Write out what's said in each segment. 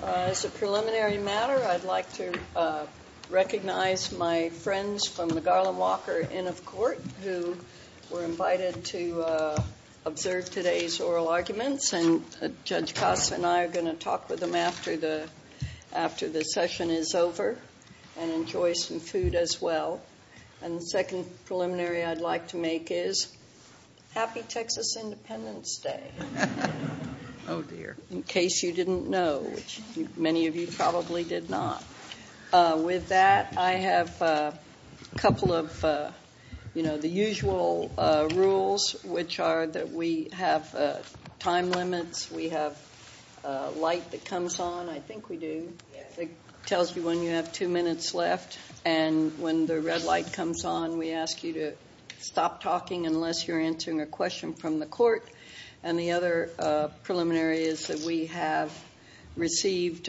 As a preliminary matter, I'd like to recognize my friends from the Garland-Walker Inn of Court who were invited to observe today's oral arguments and Judge Costa and I are going to talk with them after the session is over and enjoy some food as well. And the second preliminary I'd like to make is, happy Texas Independence Day, in case you didn't know, which many of you probably did not. With that, I have a couple of, you know, the usual rules, which are that we have time limits, we have light that comes on, I think we do, that tells you when you have two minutes left and when the red light comes on, we ask you to stop talking unless you're answering a question from the court. And the other preliminary is that we have received,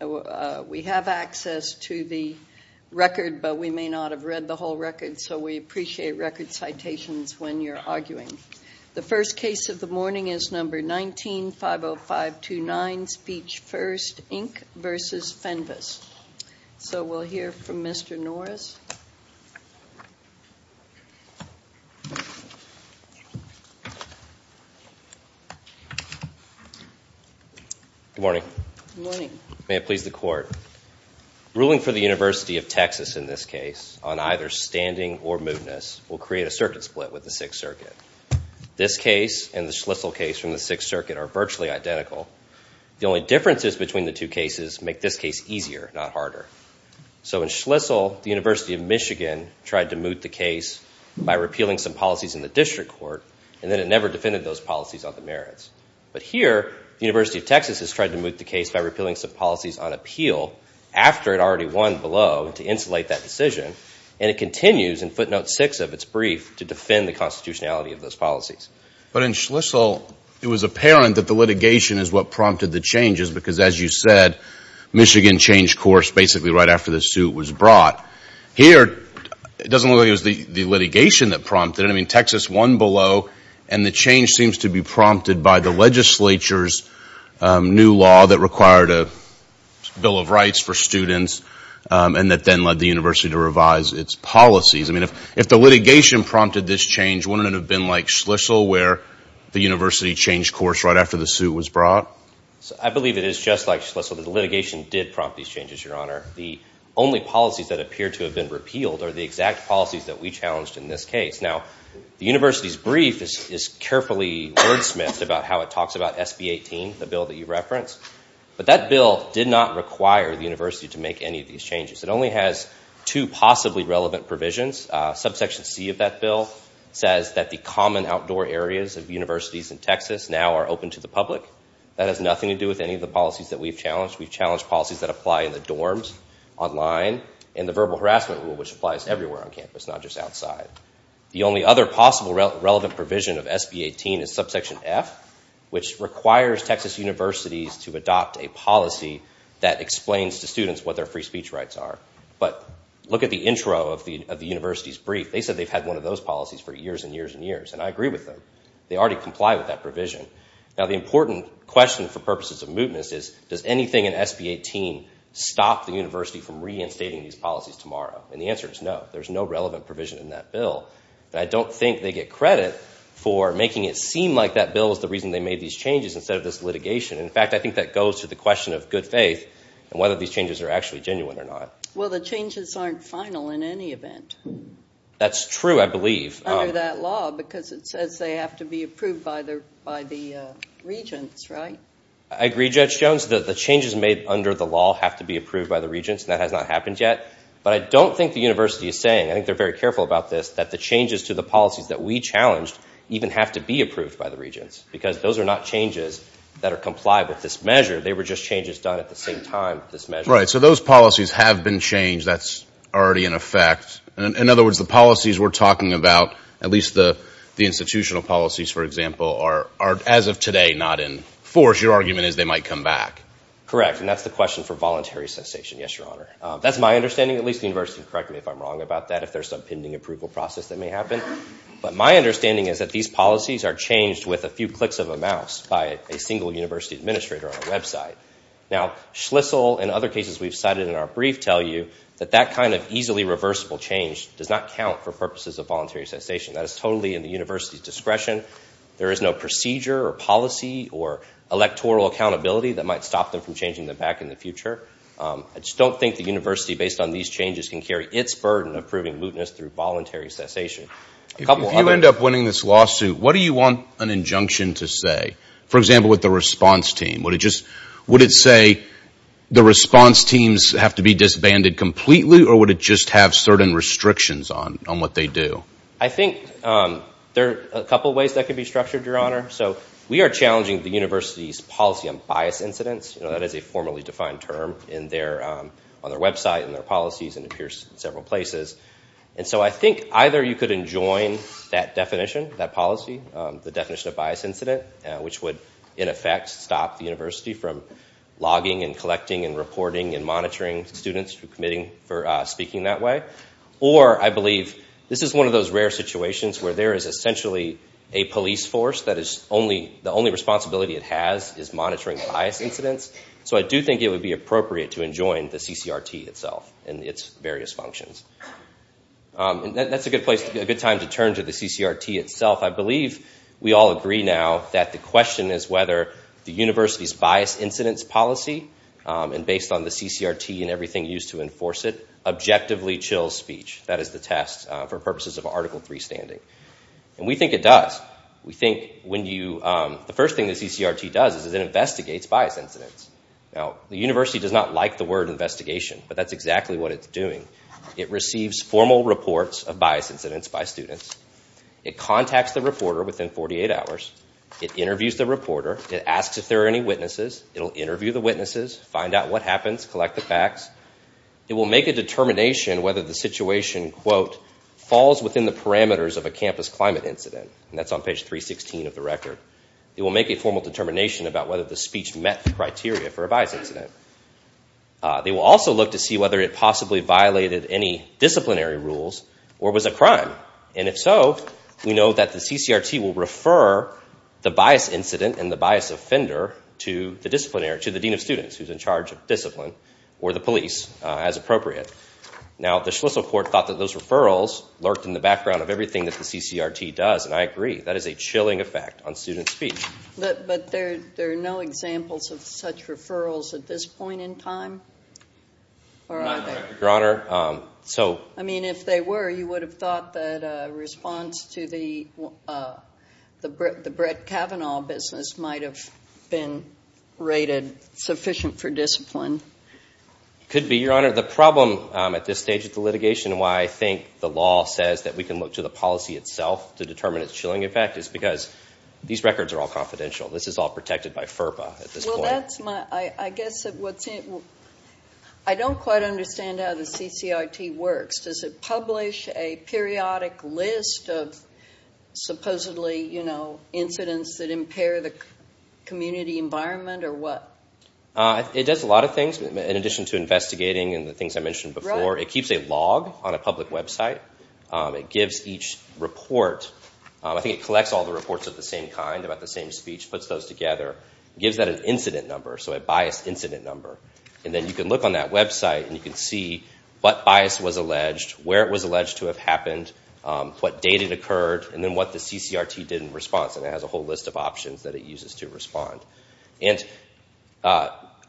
we have access to the record, but we may not have read the whole record, so we appreciate record citations when you're arguing. The first case of the morning is number 19-50529, Speech First, Inc. v. Fenves. So, we'll hear from Mr. Norris. Good morning. Good morning. May it please the Court. Ruling for the University of Texas in this case on either standing or mootness will create a circuit split with the Sixth Circuit. This case and the Schlissel case from the Sixth Circuit are virtually identical. The only differences between the two cases make this case easier, not harder. So in Schlissel, the University of Michigan tried to moot the case by repealing some policies in the district court, and then it never defended those policies on the merits. But here, the University of Texas has tried to moot the case by repealing some policies on appeal after it already won below to insulate that decision, and it continues in footnote 6 of its brief to defend the constitutionality of those policies. But in Schlissel, it was apparent that the litigation is what prompted the changes, because as you said, Michigan changed course basically right after the suit was brought. Here, it doesn't look like it was the litigation that prompted it. I mean, Texas won below, and the change seems to be prompted by the legislature's new law that required a bill of rights for students, and that then led the university to revise its policies. I mean, if the litigation prompted this change, wouldn't it have been like Schlissel, where the university changed course right after the suit was brought? I believe it is just like Schlissel, that the litigation did prompt these changes, Your Honor. The only policies that appear to have been repealed are the exact policies that we challenged in this case. Now, the university's brief is carefully wordsmithed about how it talks about SB 18, the bill that you referenced. But that bill did not require the university to make any of these changes. It only has two possibly relevant provisions. Subsection C of that bill says that the common outdoor areas of universities in Texas now are open to the public. That has nothing to do with any of the policies that we've challenged. We've challenged policies that apply in the dorms, online, and the verbal harassment rule, which applies everywhere on campus, not just outside. The only other possible relevant provision of SB 18 is subsection F, which requires Texas universities to adopt a policy that explains to students what their free speech rights are. But look at the intro of the university's brief. They said they've had one of those policies for years and years and years, and I agree with them. They already comply with that provision. Now, the important question for purposes of mootness is, does anything in SB 18 stop the university from reinstating these policies tomorrow? And the answer is no. There's no relevant provision in that bill. I don't think they get credit for making it seem like that bill is the reason they made these changes instead of this litigation. In fact, I think that goes to the question of good faith and whether these changes are actually genuine or not. Well, the changes aren't final in any event. That's true, I believe. Under that law, because it says they have to be approved by the regents, right? I agree, Judge Jones. The changes made under the law have to be approved by the regents, and that has not happened yet. But I don't think the university is saying, I think they're very careful about this, that the changes to the policies that we challenged even have to be approved by the regents, because those are not changes that are compliant with this measure. They were just changes done at the same time with this measure. Right. So those policies have been changed. That's already in effect. In other words, the policies we're talking about, at least the institutional policies, for example, are, as of today, not in force. Your argument is they might come back. Correct. And that's the question for voluntary cessation, yes, Your Honor. That's my understanding. At least the university can correct me if I'm wrong about that, if there's some pending approval process that may happen. But my understanding is that these policies are changed with a few clicks of a mouse by a single university administrator on a website. Now, Schlissel and other cases we've cited in our brief tell you that that kind of easily reversible change does not count for purposes of voluntary cessation. That is totally in the university's discretion. There is no procedure or policy or electoral accountability that might stop them from changing them back in the future. I just don't think the university, based on these changes, can carry its burden of proving cessation. If you end up winning this lawsuit, what do you want an injunction to say? For example, with the response team. Would it say the response teams have to be disbanded completely or would it just have certain restrictions on what they do? I think there are a couple of ways that could be structured, Your Honor. So we are challenging the university's policy on bias incidents, that is a formally defined term on their website and their policies and appears in several places. So I think either you could enjoin that definition, that policy, the definition of bias incident, which would, in effect, stop the university from logging and collecting and reporting and monitoring students who are committing for speaking that way. Or I believe this is one of those rare situations where there is essentially a police force that the only responsibility it has is monitoring bias incidents. So I do think it would be appropriate to enjoin the CCRT itself and its various functions. That's a good time to turn to the CCRT itself. I believe we all agree now that the question is whether the university's bias incidents policy, and based on the CCRT and everything used to enforce it, objectively chills speech. That is the test for purposes of Article 3 standing. We think it does. We think when you, the first thing the CCRT does is it investigates bias incidents. Now the university does not like the word investigation, but that's exactly what it's doing. It receives formal reports of bias incidents by students. It contacts the reporter within 48 hours. It interviews the reporter. It asks if there are any witnesses. It'll interview the witnesses, find out what happens, collect the facts. It will make a determination whether the situation, quote, falls within the parameters of a campus climate incident. And that's on page 316 of the record. It will make a formal determination about whether the speech met the criteria for a bias incident. They will also look to see whether it possibly violated any disciplinary rules or was a crime. And if so, we know that the CCRT will refer the bias incident and the bias offender to the disciplinary, to the dean of students who's in charge of discipline or the police as appropriate. Now the Schlissel court thought that those referrals lurked in the background of everything that the CCRT does. And I agree. That is a chilling effect on student speech. But there are no examples of such referrals at this point in time? Not correct, Your Honor. So I mean, if they were, you would have thought that a response to the Brett Kavanaugh business might have been rated sufficient for discipline. Could be, Your Honor. The problem at this stage of the litigation and why I think the law says that we can look to the policy itself to determine its chilling effect is because these records are all confidential. This is all protected by FERPA at this point. Well, that's my, I guess what's in, I don't quite understand how the CCRT works. Does it publish a periodic list of supposedly, you know, incidents that impair the community environment or what? It does a lot of things in addition to investigating and the things I mentioned before. It keeps a log on a public website. It gives each report, I think it collects all the reports of the same kind, about the same speech, puts those together, gives that an incident number, so a biased incident number. And then you can look on that website and you can see what bias was alleged, where it was alleged to have happened, what date it occurred, and then what the CCRT did in response. And it has a whole list of options that it uses to respond. And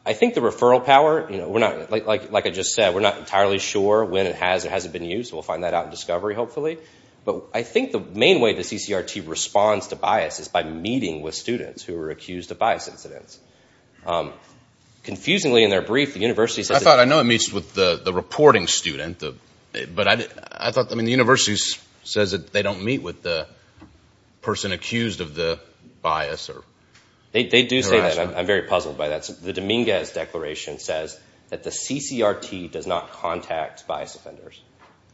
I think the referral power, you know, we're not, like I just said, we're not entirely sure when it has or hasn't been used. We'll find that out in discovery, hopefully. But I think the main way the CCRT responds to bias is by meeting with students who are accused of bias incidents. Confusingly in their brief, the university says that... I thought, I know it meets with the reporting student, but I thought, I mean, the university says that they don't meet with the person accused of the bias or harassment. They do say that. I'm very puzzled by that. The Dominguez Declaration says that the CCRT does not contact bias offenders.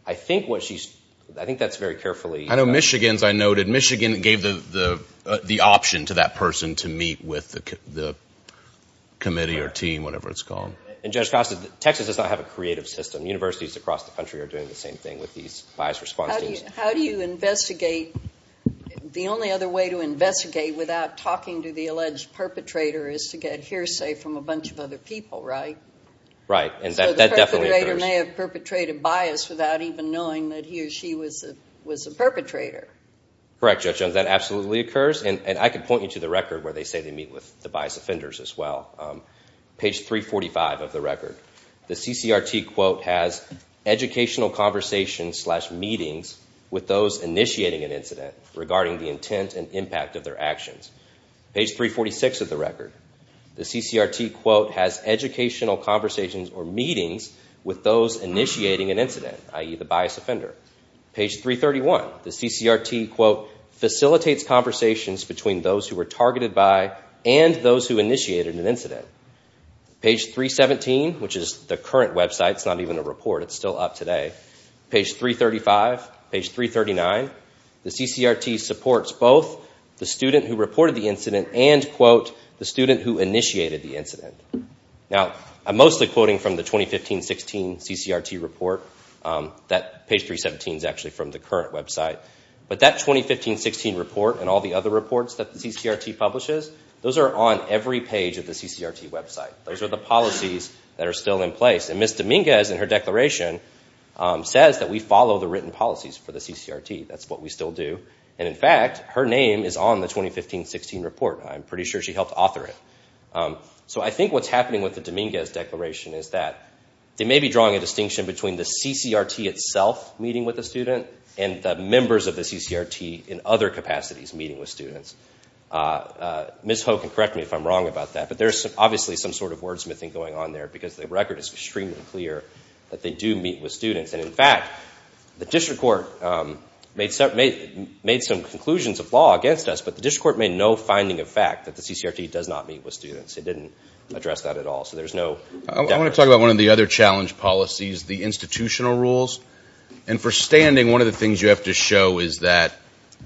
I think what she's... I think that's very carefully... I know Michigan's, I noted, Michigan gave the option to that person to meet with the committee or team, whatever it's called. And Judge Costa, Texas does not have a creative system. Universities across the country are doing the same thing with these bias response teams. How do you investigate? The only other way to investigate without talking to the alleged perpetrator is to get hearsay from a bunch of other people, right? Right. And that definitely occurs. So the perpetrator may have perpetrated bias without even knowing that he or she was a perpetrator. Correct, Judge Jones. That absolutely occurs. And I can point you to the record where they say they meet with the bias offenders as well. Page 345 of the record. The CCRT, quote, has educational conversations slash meetings with those initiating an incident regarding the intent and impact of their actions. Page 346 of the record. The CCRT, quote, has educational conversations or meetings with those initiating an incident, i.e. the bias offender. Page 331. The CCRT, quote, facilitates conversations between those who were targeted by and those who initiated an incident. Page 317, which is the current website, it's not even a report, it's still up today. Page 335, page 339. The CCRT supports both the student who reported the incident and, quote, the student who initiated the incident. Now, I'm mostly quoting from the 2015-16 CCRT report. That page 317 is actually from the current website. But that 2015-16 report and all the other reports that the CCRT publishes, those are on every page of the CCRT website. Those are the policies that are still in place. And Ms. Dominguez, in her declaration, says that we follow the written policies for the what we still do. And, in fact, her name is on the 2015-16 report. I'm pretty sure she helped author it. So I think what's happening with the Dominguez declaration is that they may be drawing a distinction between the CCRT itself meeting with the student and the members of the CCRT in other capacities meeting with students. Ms. Ho can correct me if I'm wrong about that, but there's obviously some sort of wordsmithing going on there because the record is extremely clear that they do meet with students. And, in fact, the district court made some conclusions of law against us, but the district court made no finding of fact that the CCRT does not meet with students. It didn't address that at all. So there's no... I want to talk about one of the other challenge policies, the institutional rules. And for standing, one of the things you have to show is that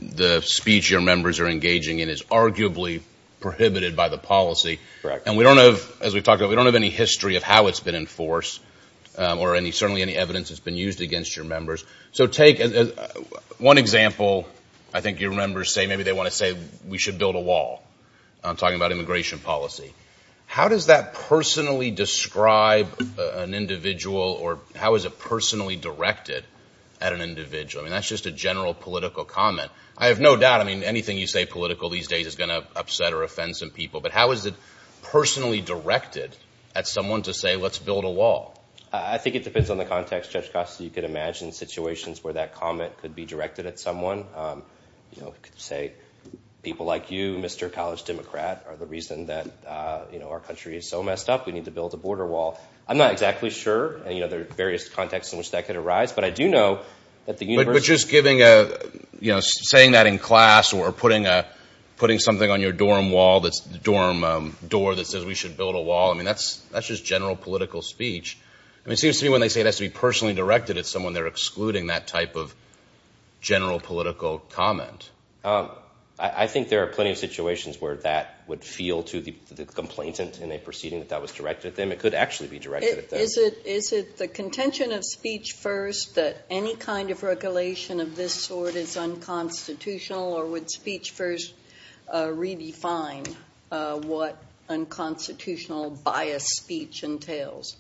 the speech your members are engaging in is arguably prohibited by the policy. And we don't have, as we've talked about, we don't have any history of how it's been enforced or certainly any evidence that's been used against your members. So take one example, I think your members say maybe they want to say we should build a wall. I'm talking about immigration policy. How does that personally describe an individual or how is it personally directed at an individual? I mean, that's just a general political comment. I have no doubt, I mean, anything you say political these days is going to upset or offend some people. But how is it personally directed at someone to say, let's build a wall? I think it depends on the context, Judge Costa. You could imagine situations where that comment could be directed at someone, you know, say people like you, Mr. College Democrat, are the reason that, you know, our country is so messed up. We need to build a border wall. I'm not exactly sure. And, you know, there are various contexts in which that could arise. But I do know that the universe... But just giving a, you know, saying that in class or putting something on your dorm wall that's the dorm door that says we should build a wall, I mean, that's just general political speech. I mean, it seems to me when they say it has to be personally directed at someone, they're excluding that type of general political comment. I think there are plenty of situations where that would feel to the complainant in a proceeding that that was directed at them. It could actually be directed at them. Is it the contention of speech first that any kind of regulation of this sort is unconstitutional or would speech first redefine what unconstitutional biased speech entails?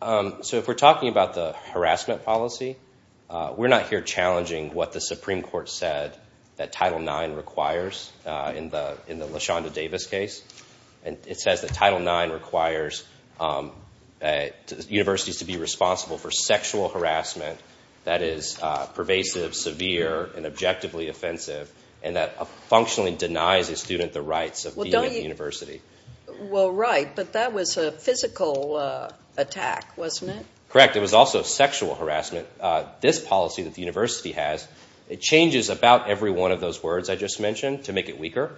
So if we're talking about the harassment policy, we're not here challenging what the Supreme Court said that Title IX requires in the LaShonda Davis case. And it says that Title IX requires universities to be responsible for sexual harassment that is pervasive, severe, and objectively offensive, and that functionally denies a student the rights of being at the university. Well, right, but that was a physical attack, wasn't it? Correct. It was also sexual harassment. This policy that the university has, it changes about every one of those words I just mentioned to make it weaker,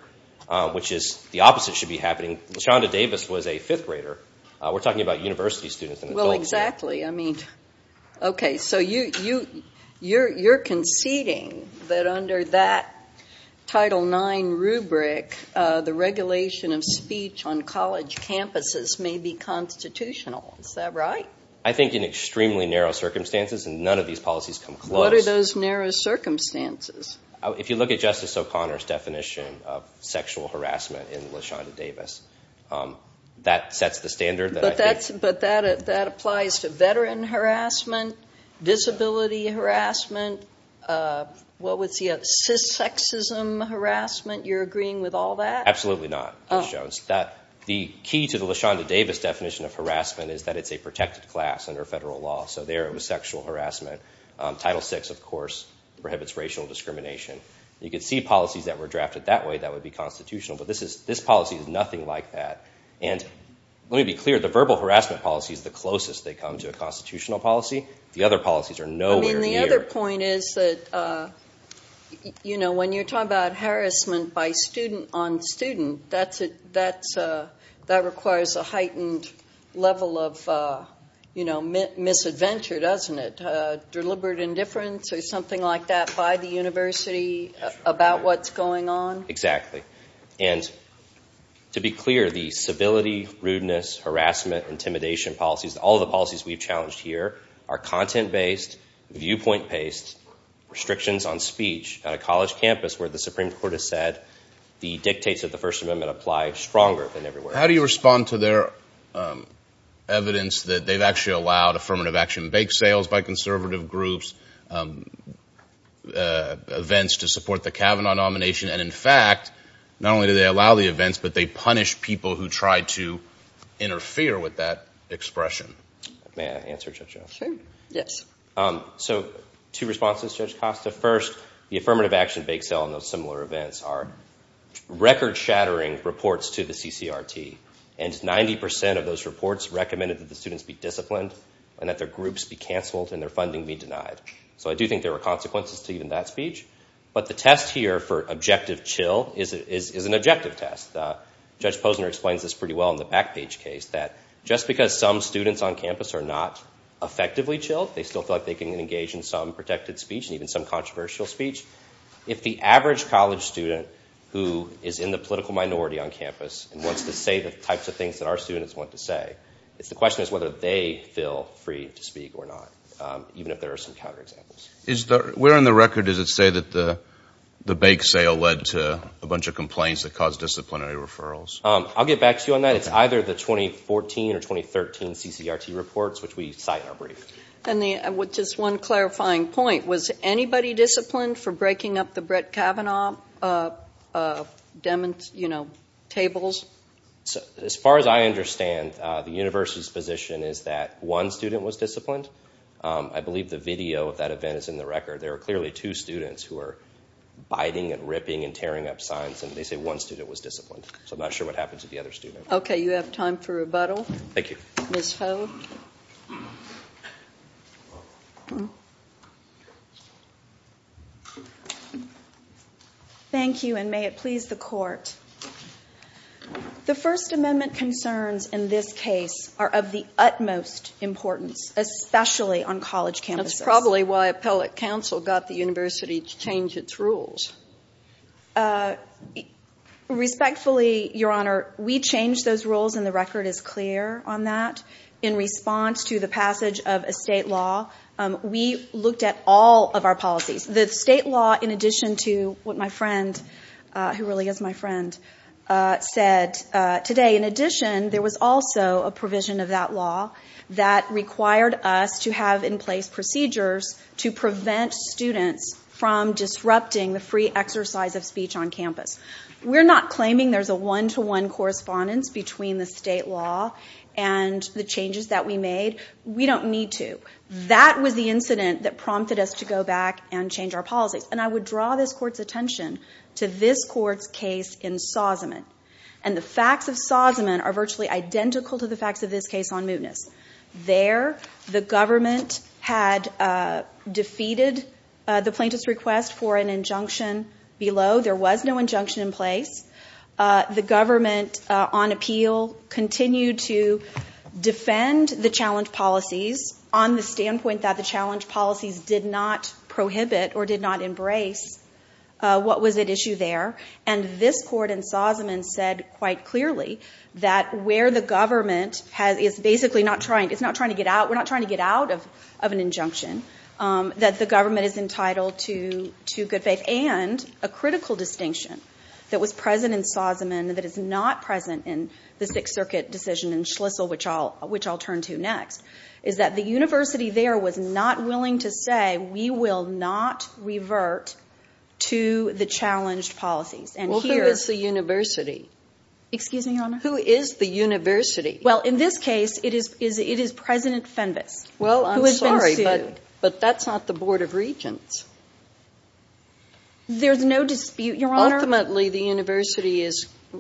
which is the opposite should be happening. LaShonda Davis was a fifth grader. We're talking about university students and adults here. Well, exactly. I mean, okay, so you're conceding that under that Title IX rubric, the regulation of speech on college campuses may be constitutional. Is that right? I think in extremely narrow circumstances, and none of these policies come close. What are those narrow circumstances? If you look at Justice O'Connor's definition of sexual harassment in LaShonda Davis, that sets the standard that I think... But that applies to veteran harassment, disability harassment, what was he at, cissexism harassment? You're agreeing with all that? Absolutely not, Judge Jones. The key to the LaShonda Davis definition of harassment is that it's a protected class under federal law, so there it was sexual harassment. Title VI, of course, prohibits racial discrimination. You could see policies that were drafted that way that would be constitutional, but this policy is nothing like that. And let me be clear, the verbal harassment policy is the closest they come to a constitutional policy. The other policies are nowhere near... I mean, the other point is that when you're talking about harassment by student on student, that requires a heightened level of misadventure, doesn't it? Deliberate indifference or something like that by the university about what's going on? Exactly. And to be clear, the civility, rudeness, harassment, intimidation policies, all the policies we've challenged here are content-based, viewpoint-based, restrictions on speech at a college campus where the Supreme Court has said the dictates of the First Amendment apply stronger than ever before. How do you respond to their evidence that they've actually allowed affirmative action, bake sales by conservative groups, events to support the Kavanaugh nomination, and in fact, not only do they allow the events, but they punish people who try to interfere with that expression? May I answer, Judge Costa? Sure. Yes. So two responses, Judge Costa. First, the affirmative action, bake sale, and those similar events are record-shattering reports to the CCRT, and 90% of those reports recommended that the students be disciplined and that their groups be canceled and their funding be denied. So I do think there were consequences to even that speech. But the test here for objective chill is an objective test. Judge Posner explains this pretty well in the Backpage case, that just because some students on campus are not effectively chilled, they still feel like they can engage in some protected speech and even some controversial speech. If the average college student who is in the political minority on campus and wants to say the types of things that our students want to say, it's the question as whether they feel free to speak or not, even if there are some counterexamples. Where in the record does it say that the bake sale led to a bunch of complaints that caused disciplinary referrals? I'll get back to you on that. It's either the 2014 or 2013 CCRT reports, which we cite in our brief. Just one clarifying point, was anybody disciplined for breaking up the Brett Kavanaugh tables? As far as I understand, the university's position is that one student was disciplined. I believe the video of that event is in the record. There are clearly two students who are biting and ripping and tearing up signs, and they say one student was disciplined. So I'm not sure what happens with the other student. Okay, you have time for rebuttal. Thank you. Ms. Ho. Thank you, and may it please the court. The First Amendment concerns in this case are of the utmost importance, especially on college campuses. That's probably why appellate counsel got the university to change its rules. Respectfully, Your Honor, we changed those rules, and the record is clear on that. In response to the passage of a state law, we looked at all of our policies. The state law, in addition to what my friend, who really is my friend, said today, in addition, there was also a provision of that law that required us to have in place procedures to prevent students from disrupting the free exercise of speech on campus. We're not claiming there's a one-to-one correspondence between the state law and the changes that we made. We don't need to. That was the incident that prompted us to go back and change our policies. And I would draw this Court's attention to this Court's case in Sausamon. And the facts of Sausamon are virtually identical to the facts of this case on Mootness. There, the government had defeated the plaintiff's request for an injunction below. There was no injunction in place. The government, on appeal, continued to defend the challenge policies on the standpoint that the challenge policies did not prohibit or did not embrace what was at issue there. And this Court in Sausamon said quite clearly that where the government is basically not trying to get out, we're not trying to get out of an injunction, that the government is entitled to good faith. And a critical distinction that was present in Sausamon that is not present in the Sixth Circuit decision in Schlissel, which I'll turn to next, is that the university there was not willing to say, we will not revert to the challenged policies. And here— Well, who is the university? Excuse me, Your Honor? Who is the university? Well, in this case, it is President Fenves who has been sued. Well, I'm sorry, but that's not the Board of Regents. There's no dispute, Your Honor? Ultimately, the university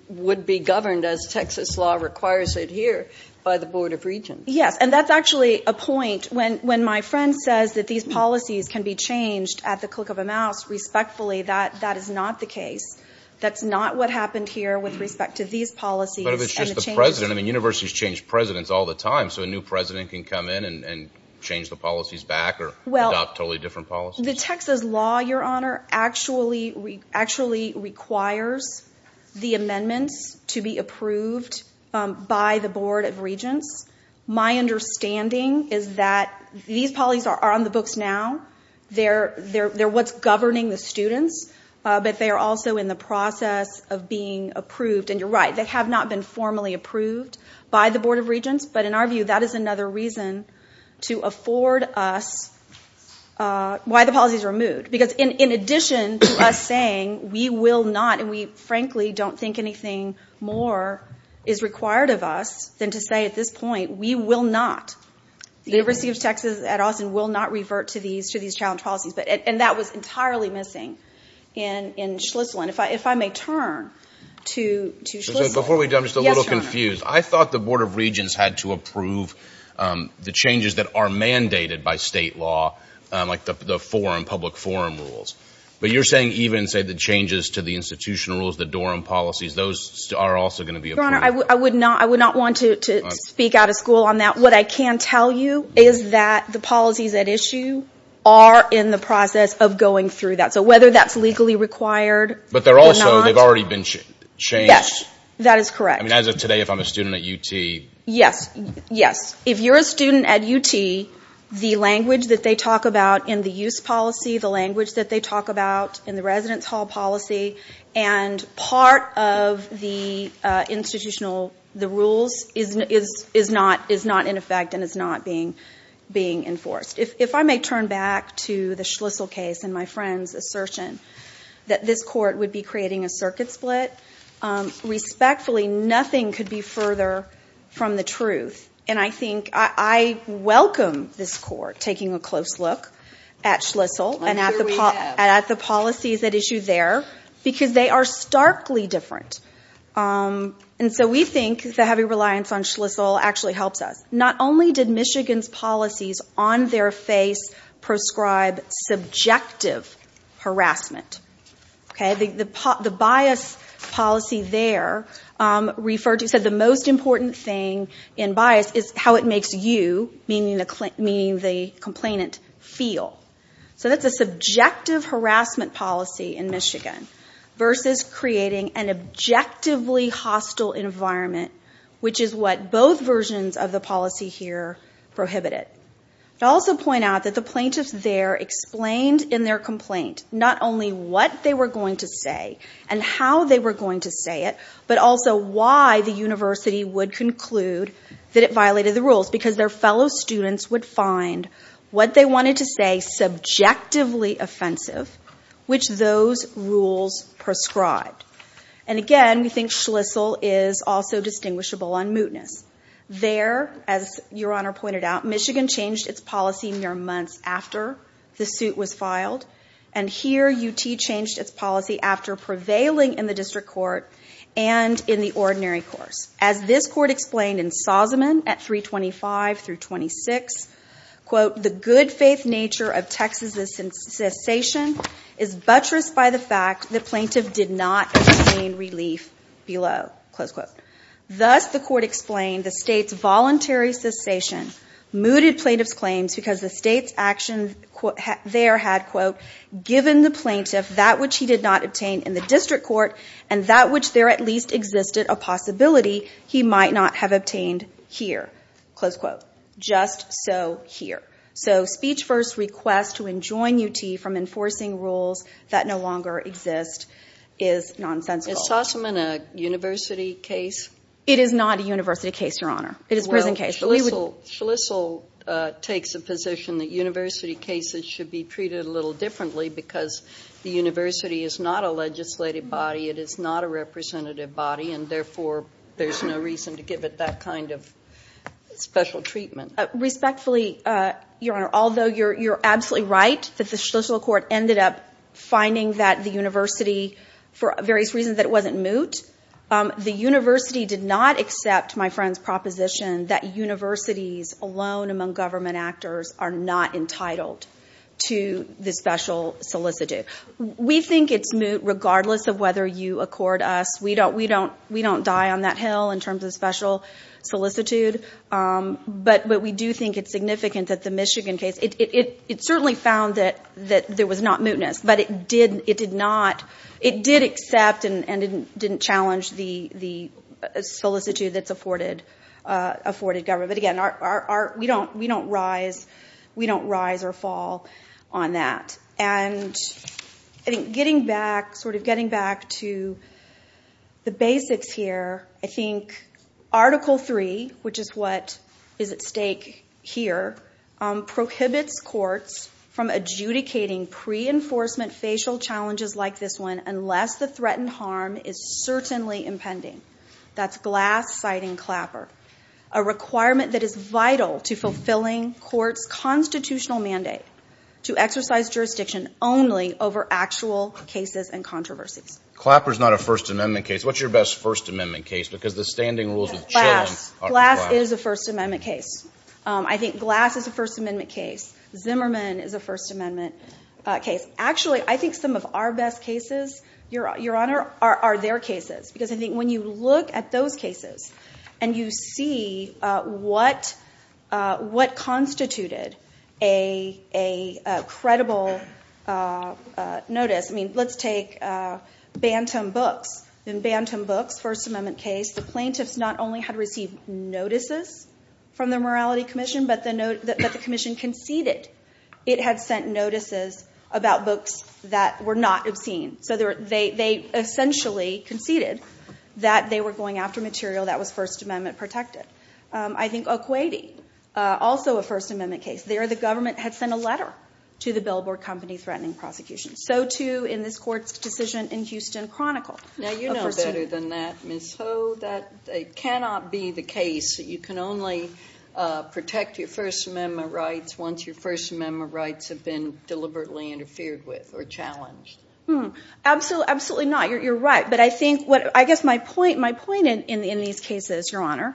would be governed, as Texas law requires it here, by the Board of Regents. Yes, and that's actually a point. When my friend says that these policies can be changed at the click of a mouse, respectfully, that is not the case. That's not what happened here with respect to these policies and the changes— But if it's just the president, I mean, universities change presidents all the time, so a new president can come in and change the policies back or adopt totally different policies? The Texas law, Your Honor, actually requires the amendments to be approved by the Board of Regents. My understanding is that these policies are on the books now. They're what's governing the students, but they are also in the process of being approved. And you're right, they have not been formally approved by the Board of Regents, but in our reason to afford us why the policies were moved. Because in addition to us saying we will not, and we frankly don't think anything more is required of us than to say at this point, we will not, the university of Texas at Austin will not revert to these challenge policies. And that was entirely missing in Schlissel. And if I may turn to Schlissel— Before we do, I'm just a little confused. I thought the Board of Regents had to approve the changes that are mandated by state law, like the forum, public forum rules. But you're saying even, say, the changes to the institutional rules, the Dorham policies, those are also going to be approved? Your Honor, I would not want to speak out of school on that. What I can tell you is that the policies at issue are in the process of going through that. So whether that's legally required or not— But they're also, they've already been changed. Yes, that is correct. I mean, as of today, if I'm a student at UT— Yes, yes. If you're a student at UT, the language that they talk about in the use policy, the language that they talk about in the residence hall policy, and part of the institutional, the rules, is not in effect and is not being enforced. If I may turn back to the Schlissel case and my friend's assertion that this court would be creating a circuit split, respectfully, nothing could be further from the truth. And I think, I welcome this court taking a close look at Schlissel and at the policies at issue there, because they are starkly different. And so we think the heavy reliance on Schlissel actually helps us. Not only did Michigan's policies on their face prescribe subjective harassment, okay? The bias policy there referred to, said the most important thing in bias is how it makes you, meaning the complainant, feel. So that's a subjective harassment policy in Michigan versus creating an objectively hostile environment, which is what both versions of the policy here prohibited. I also point out that the plaintiffs there explained in their complaint not only what they were going to say and how they were going to say it, but also why the university would conclude that it violated the rules, because their fellow students would find what they wanted to say subjectively offensive, which those rules prescribed. And again, we think Schlissel is also distinguishable on mootness. There, as your honor pointed out, Michigan changed its policy mere months after the suit was filed, and here UT changed its policy after prevailing in the district court and in the ordinary course. As this court explained in Sauseman at 325 through 26, quote, the good faith nature of the plaintiff's actions there had, quote, given the plaintiff that which he did not obtain in the district court and that which there at least existed a possibility he might not have obtained here, close quote. Just so here. So speech first request to enjoin UT from enforcing rules that no longer exist is nonsensical. Is Sauseman a university case? It is not a university case, your honor. It is a prison case. Well, Schlissel takes a position that university cases should be treated a little differently because the university is not a legislative body. It is not a representative body, and therefore there's no reason to give it that kind of special treatment. Respectfully, your honor, although you're absolutely right that the Schlissel court ended up finding that the university, for various reasons that it wasn't moot, the university did not accept my friend's proposition that universities alone among government actors are not entitled to the special solicitude. We think it's moot regardless of whether you accord us. We don't die on that hill in terms of special solicitude. But we do think it's significant that the Michigan case, it certainly found that there was not mootness, but it did accept and didn't challenge the solicitude that's afforded government. But again, we don't rise or fall on that. And I think getting back, sort of getting back to the basics here, I think Article III, which is what is at stake here, prohibits courts from adjudicating pre-enforcement facial challenges like this one unless the threatened harm is certainly impending. That's glass-siding clapper, a requirement that is vital to fulfilling court's constitutional mandate to exercise jurisdiction only over actual cases and controversies. Clapper's not a First Amendment case. What's your best First Amendment case? Because the standing rules with children are the clapper. Glass. Glass is a First Amendment case. I think Glass is a First Amendment case. Zimmerman is a First Amendment case. Actually, I think some of our best cases, Your Honor, are their cases. Because I think when you look at those cases and you see what constituted a credible notice, let's take Bantam Books. In Bantam Books, First Amendment case, the plaintiffs not only had received notices from the Morality Commission, but the commission conceded it had sent notices about books that were not obscene. They essentially conceded that they were going after material that was First Amendment protected. I think O'Quadey, also a First Amendment case. There the government had sent a letter to the Billboard Company threatening prosecution. So too in this court's decision in Houston Chronicle. Now, you know better than that, Ms. Ho, that it cannot be the case that you can only protect your First Amendment rights once your First Amendment rights have been deliberately interfered with or challenged. Absolutely not. You're right. But I guess my point in these cases, Your Honor,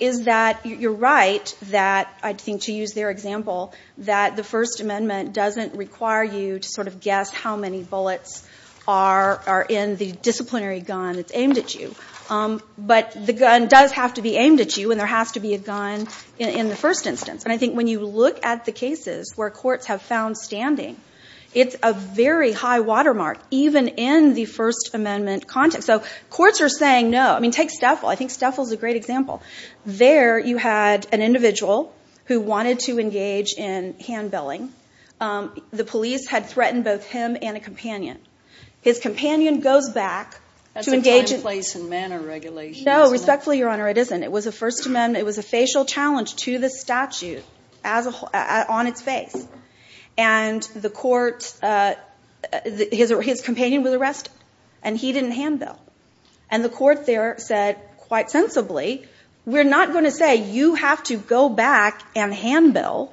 is that you're right that, I think to use their example, that the First Amendment doesn't require you to sort of guess how many bullets are in the disciplinary gun that's aimed at you. But the gun does have to be aimed at you, and there has to be a gun in the first instance. And I think when you look at the cases where courts have found standing, it's a very high watermark even in the First Amendment context. So courts are saying no. I mean, take Steffel. I think Steffel's a great example. There you had an individual who wanted to engage in hand-billing. The police had threatened both him and a companion. His companion goes back to engage in— That's a common place in manner regulations, isn't it? No, respectfully, Your Honor, it isn't. It was a First Amendment. It was a facial challenge to the statute on its face. And the court—his companion was arrested, and he didn't hand-bill. And the court there said, quite sensibly, we're not going to say you have to go back and hand-bill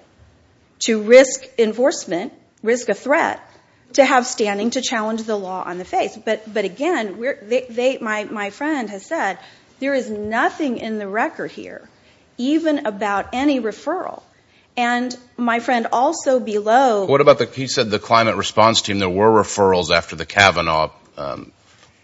to risk enforcement, risk a threat, to have standing to challenge the law on the face. But again, my friend has said, there is nothing in the record here, even about any referral. And my friend also below— What about the—he said the climate response team, there were referrals after the Kavanaugh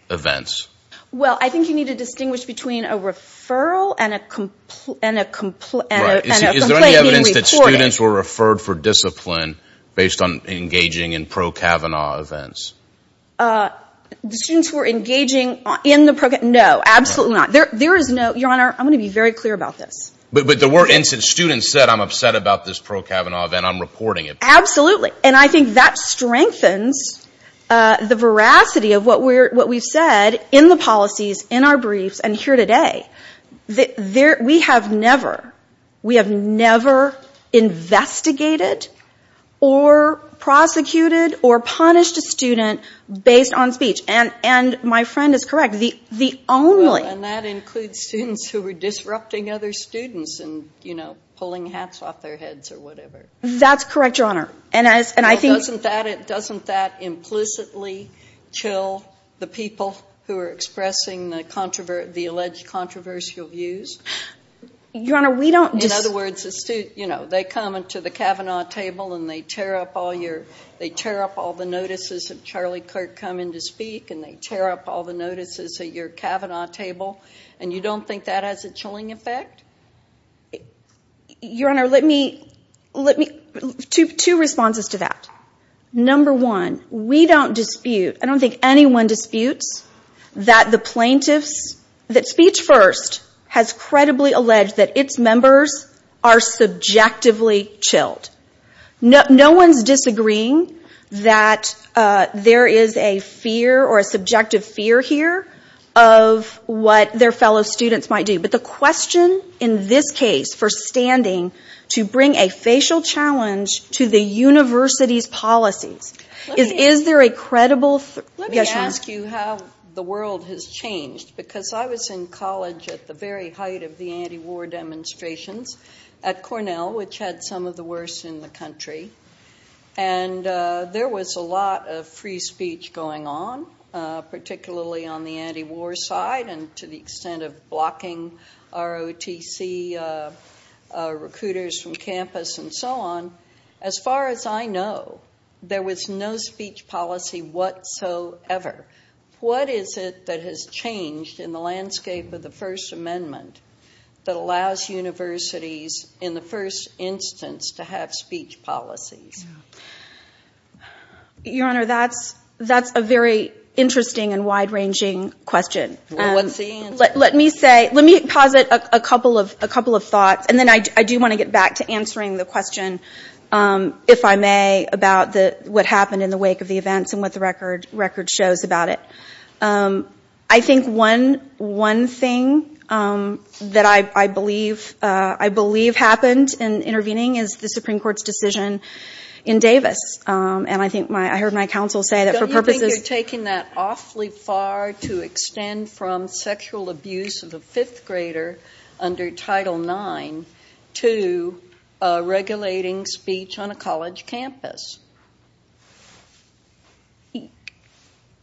events. Well, I think you need to distinguish between a referral and a complaint being reported. Is there any evidence that students were referred for discipline based on engaging in pro-Kavanaugh events? The students who were engaging in the pro—no, absolutely not. There is no—Your Honor, I'm going to be very clear about this. But there were incidents students said, I'm upset about this pro-Kavanaugh event, I'm reporting it. Absolutely. And I think that strengthens the veracity of what we've said in the policies, in our briefs, and here today. There—we have never, we have never investigated or prosecuted or punished a student based on speech. And my friend is correct. The only— Well, and that includes students who were disrupting other students and, you know, pulling hats off their heads or whatever. That's correct, Your Honor. And I think— But doesn't that implicitly chill the people who are expressing the alleged controversial views? Your Honor, we don't— In other words, a student, you know, they come into the Kavanaugh table and they tear up all your—they tear up all the notices of Charlie Kirk coming to speak and they tear up all the notices at your Kavanaugh table. And you don't think that has a chilling effect? Your Honor, let me—two responses to that. Number one, we don't dispute—I don't think anyone disputes that the plaintiffs—that Speech First has credibly alleged that its members are subjectively chilled. No one's disagreeing that there is a fear or a subjective fear here of what their fellow students might do. But the question in this case for standing to bring a facial challenge to the university's policies is, is there a credible— Let me ask you how the world has changed. Because I was in college at the very height of the anti-war demonstrations at Cornell, which had some of the worst in the country. And there was a lot of free speech going on, particularly on the anti-war side and to the ROTC recruiters from campus and so on. As far as I know, there was no speech policy whatsoever. What is it that has changed in the landscape of the First Amendment that allows universities in the first instance to have speech policies? Your Honor, that's a very interesting and wide-ranging question. Let me say—let me posit a couple of thoughts. And then I do want to get back to answering the question, if I may, about what happened in the wake of the events and what the record shows about it. I think one thing that I believe happened in intervening is the Supreme Court's decision in Davis. And I think my—I heard my counsel say that for purposes— from sexual abuse of a fifth grader under Title IX to regulating speech on a college campus.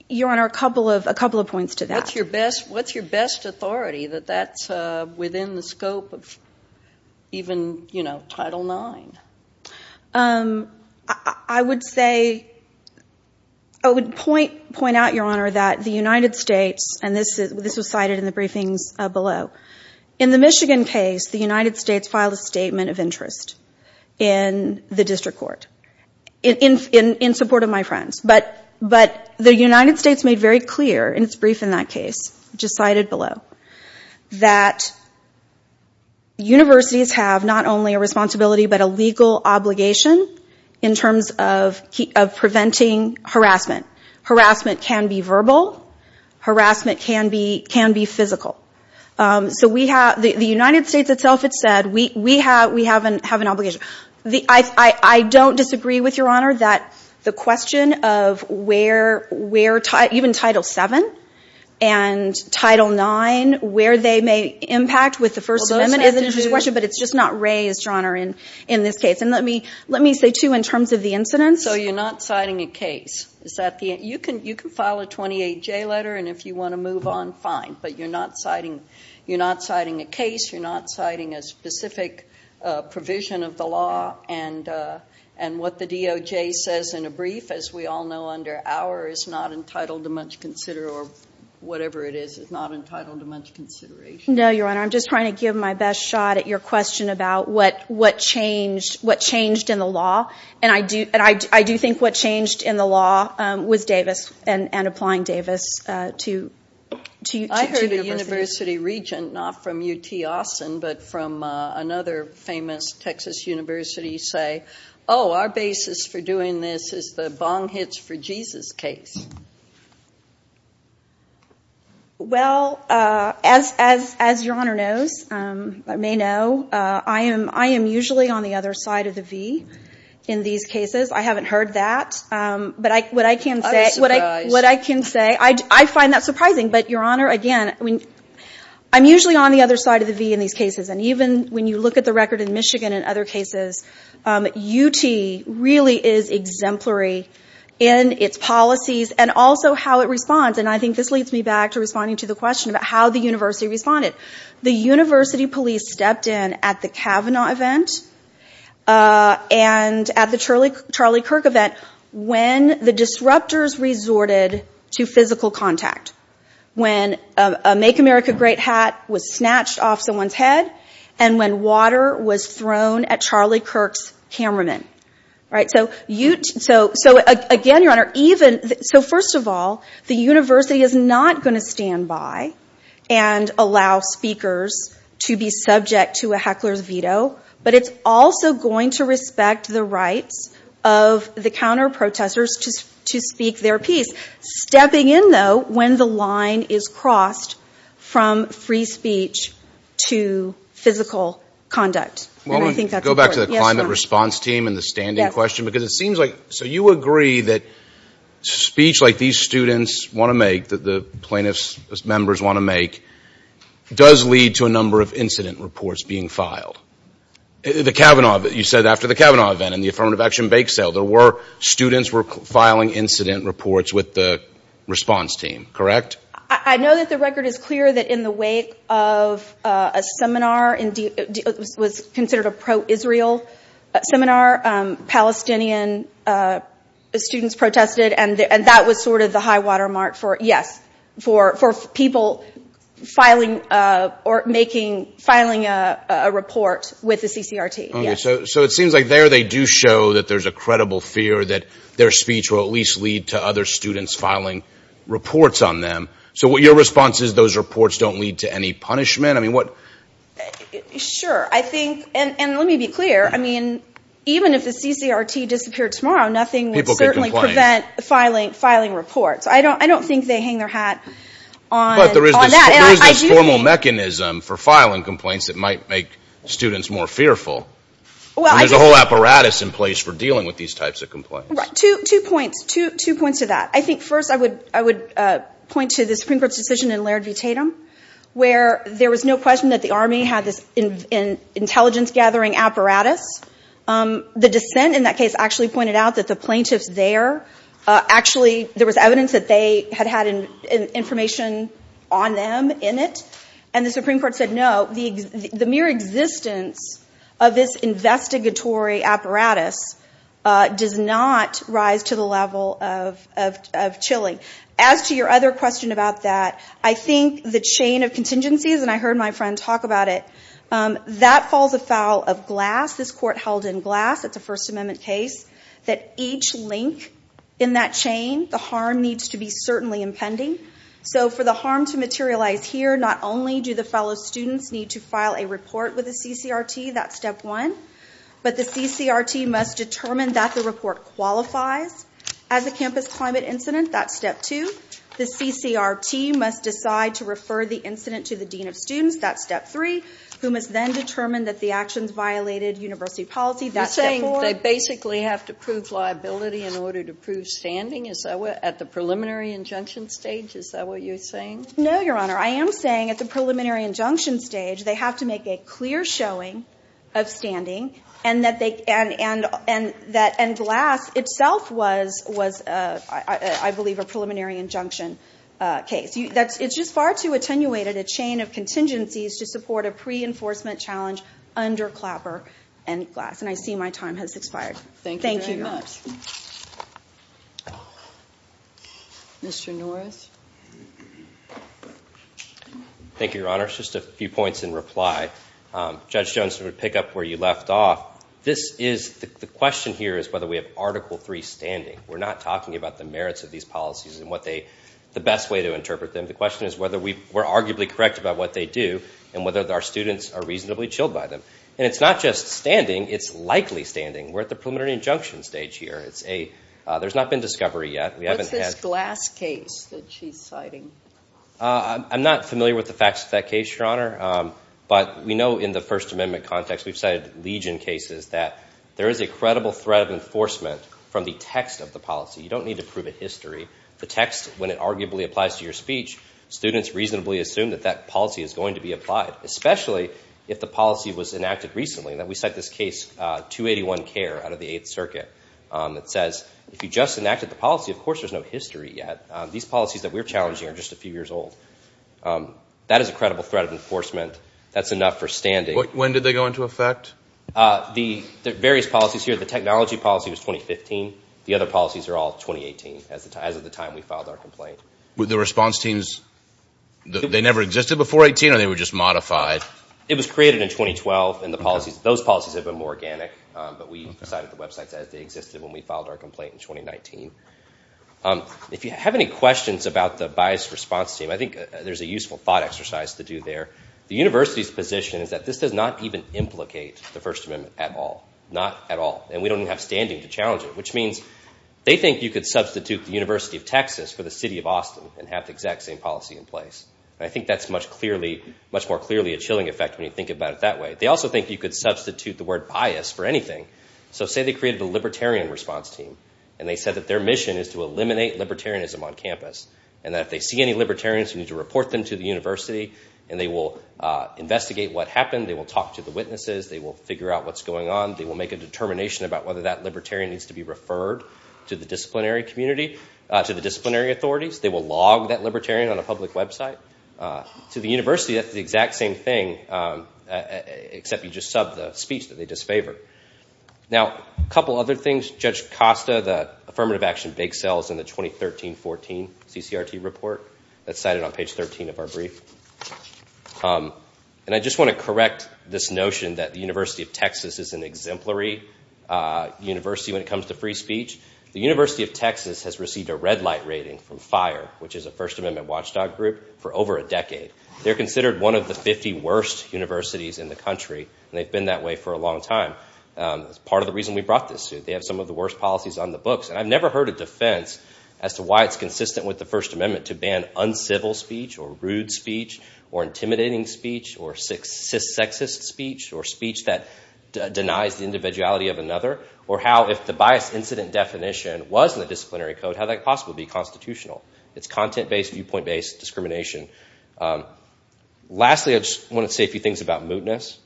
Your Honor, a couple of points to that. What's your best authority that that's within the scope of even, you know, Title IX? I would say—I would point out, Your Honor, that the United States—and this was cited in the briefings below—in the Michigan case, the United States filed a statement of interest in the district court in support of my friends. But the United States made very clear—and it's brief in that case, which is cited below—that universities have not only a responsibility but a legal obligation in terms of preventing harassment. Harassment can be verbal. Harassment can be physical. So we have—the United States itself, it said, we have an obligation. I don't disagree with, Your Honor, that the question of where—even Title VII and Title IX, where they may impact with the First Amendment— Well, those— But it's just not raised, Your Honor, in this case. And let me say, too, in terms of the incidents— So you're not citing a case. Is that the—you can file a 28J letter, and if you want to move on, fine. But you're not citing a case. You're not citing a specific provision of the law. And what the DOJ says in a brief, as we all know, under our—it's not entitled to much consideration. No, Your Honor, I'm just trying to give my best shot at your question about what changed in the law. And I do think what changed in the law was Davis and applying Davis to universities. I heard a university regent, not from UT Austin, but from another famous Texas university, say, oh, our basis for doing this is the bong hits for Jesus case. Well, as Your Honor knows, may know, I am usually on the other side of the V in these cases. I haven't heard that. But what I can say— I was surprised. What I can say—I find that surprising. But, Your Honor, again, I'm usually on the other side of the V in these cases. And even when you look at the record in Michigan and other cases, UT really is exemplary in its policies and also how it responds. And I think this leads me back to responding to the question about how the university responded. The university police stepped in at the Kavanaugh event and at the Charlie Kirk event when the disruptors resorted to physical contact, when a Make America Great hat was snatched off someone's head, and when water was thrown at Charlie Kirk's cameraman. So, again, Your Honor, even—so, first of all, the university is not going to stand by and allow speakers to be subject to a heckler's veto. But it's also going to respect the rights of the counter-protesters to speak their piece. Stepping in, though, when the line is crossed from free speech to physical conduct. And I think that's important. Go back to the climate response team and the standing question. Because it seems like—so you agree that speech like these students want to make, that the plaintiffs' members want to make, does lead to a number of incident reports being filed. The Kavanaugh—you said after the Kavanaugh event and the affirmative action bake sale, there were students were filing incident reports with the response team, correct? I know that the record is clear that in the wake of a seminar, it was considered a pro-Israel seminar, Palestinian students protested. And that was sort of the high watermark for, yes, for people filing or making, filing a report with the CCRT. So it seems like there they do show that there's a credible fear that their speech will at least lead to other students filing reports on them. So your response is those reports don't lead to any punishment? I mean, what— Sure. I think—and let me be clear. I mean, even if the CCRT disappeared tomorrow, nothing would certainly prevent filing reports. I don't think they hang their hat on that. Who is this formal mechanism for filing complaints that might make students more fearful? There's a whole apparatus in place for dealing with these types of complaints. Two points. Two points to that. I think first I would point to the Supreme Court's decision in Laird v. Tatum, where there was no question that the Army had this intelligence-gathering apparatus. The dissent in that case actually pointed out that the plaintiffs there, actually there was evidence that they had had information on them in it, and the Supreme Court said no, the mere existence of this investigatory apparatus does not rise to the level of chilling. As to your other question about that, I think the chain of contingencies, and I heard my friend talk about it, that falls afoul of glass. This court held in glass, it's a First Amendment case, that each link in that chain, the harm needs to be certainly impending. So for the harm to materialize here, not only do the fellow students need to file a report with the CCRT, that's step one, but the CCRT must determine that the report qualifies as a campus climate incident, that's step two. The CCRT must decide to refer the incident to the dean of students, that's step three, who must then determine that the actions violated university policy, that's step four. You're saying they basically have to prove liability in order to prove standing, at the preliminary injunction stage? Is that what you're saying? No, Your Honor. I am saying at the preliminary injunction stage, they have to make a clear showing of standing, and glass itself was, I believe, a preliminary injunction case. It's just far too attenuated a chain of contingencies to support a pre-enforcement challenge under Clapper and Glass, and I see my time has expired. Thank you very much. Mr. Norris? Thank you, Your Honor. Just a few points in reply. Judge Jones would pick up where you left off. The question here is whether we have Article III standing. We're not talking about the merits of these policies and the best way to interpret them. The question is whether we're arguably correct about what they do and whether our students are reasonably chilled by them. And it's not just standing, it's likely standing. We're at the preliminary injunction stage here. There's not been discovery yet. What's this Glass case that she's citing? I'm not familiar with the facts of that case, Your Honor, but we know in the First Amendment context, we've cited Legion cases, that there is a credible threat of enforcement from the text of the policy. You don't need to prove a history. The text, when it arguably applies to your speech, students reasonably assume that that policy is going to be applied, especially if the policy was enacted recently. We cite this case, 281 Care, out of the Eighth Circuit. It says if you just enacted the policy, of course there's no history yet. These policies that we're challenging are just a few years old. That is a credible threat of enforcement. That's enough for standing. When did they go into effect? The various policies here. The technology policy was 2015. The other policies are all 2018, as of the time we filed our complaint. Were the response teams, they never existed before 18, or they were just modified? It was created in 2012, and those policies have been more organic, but we cited the websites as they existed when we filed our complaint in 2019. If you have any questions about the biased response team, I think there's a useful thought exercise to do there. The university's position is that this does not even implicate the First Amendment at all, not at all, and we don't even have standing to challenge it, which means they think you could substitute the University of Texas for the city of Austin and have the exact same policy in place. I think that's much more clearly a chilling effect when you think about it that way. They also think you could substitute the word bias for anything. So say they created a libertarian response team, and they said that their mission is to eliminate libertarianism on campus, and that if they see any libertarians, you need to report them to the university, and they will investigate what happened. They will talk to the witnesses. They will figure out what's going on. They will make a determination about whether that libertarian needs to be referred to the disciplinary community, to the disciplinary authorities. They will log that libertarian on a public website. To the university, that's the exact same thing, except you just sub the speech that they disfavored. Now, a couple other things. Judge Costa, the affirmative action bake sale is in the 2013-14 CCRT report. That's cited on page 13 of our brief. And I just want to correct this notion that the University of Texas is an exemplary university when it comes to free speech. The University of Texas has received a red light rating from FIRE, which is a First Amendment watchdog group, for over a decade. They're considered one of the 50 worst universities in the country, and they've been that way for a long time. That's part of the reason we brought this to you. They have some of the worst policies on the books, and I've never heard a defense as to why it's consistent with the First Amendment to ban uncivil speech or rude speech or intimidating speech or cissexist speech or speech that denies the individuality of another, or how, if the biased incident definition was in the disciplinary code, how that could possibly be constitutional. It's content-based, viewpoint-based discrimination. Lastly, I just want to say a few things about mootness.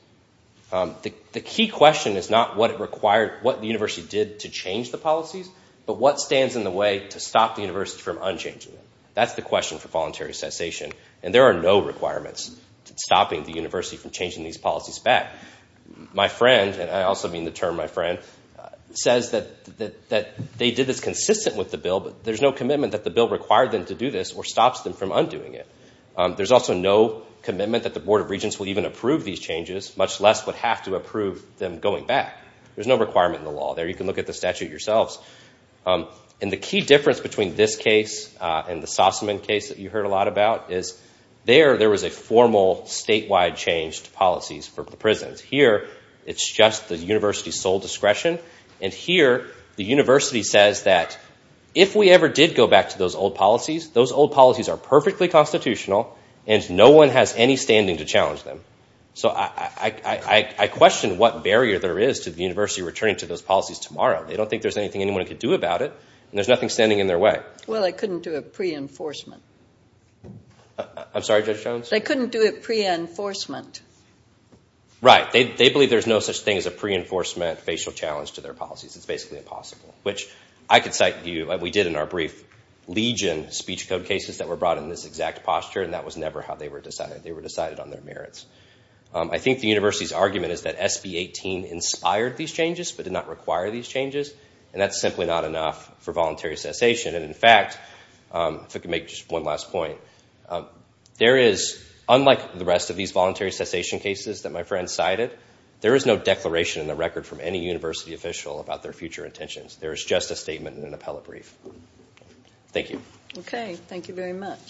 The key question is not what the university did to change the policies, but what stands in the way to stop the university from unchanging them. That's the question for voluntary cessation, and there are no requirements stopping the university from changing these policies back. My friend, and I also mean the term my friend, says that they did this consistent with the bill, but there's no commitment that the bill required them to do this or stops them from undoing it. There's also no commitment that the Board of Regents will even approve these changes, much less would have to approve them going back. There's no requirement in the law. There, you can look at the statute yourselves. And the key difference between this case and the Sossaman case that you heard a lot about is there, there was a formal statewide change to policies for the prisons. Here, it's just the university's sole discretion, and here, the university says that if we ever did go back to those old policies, those old policies are perfectly constitutional, and no one has any standing to challenge them. So I question what barrier there is to the university returning to those policies tomorrow. They don't think there's anything anyone can do about it, and there's nothing standing in their way. Well, they couldn't do it pre-enforcement. I'm sorry, Judge Jones? They couldn't do it pre-enforcement. Right. They believe there's no such thing as a pre-enforcement facial challenge to their policies. It's basically impossible, which I could cite to you, and we did in our brief, Legion speech code cases that were brought in this exact posture, and that was never how they were decided. They were decided on their merits. I think the university's argument is that SB 18 inspired these changes but did not require these changes, and that's simply not enough for voluntary cessation. And, in fact, if I could make just one last point, there is, unlike the rest of these voluntary cessation cases that my friend cited, there is no declaration in the record from any university official about their future intentions. There is just a statement in an appellate brief. Thank you. Okay. Thank you very much.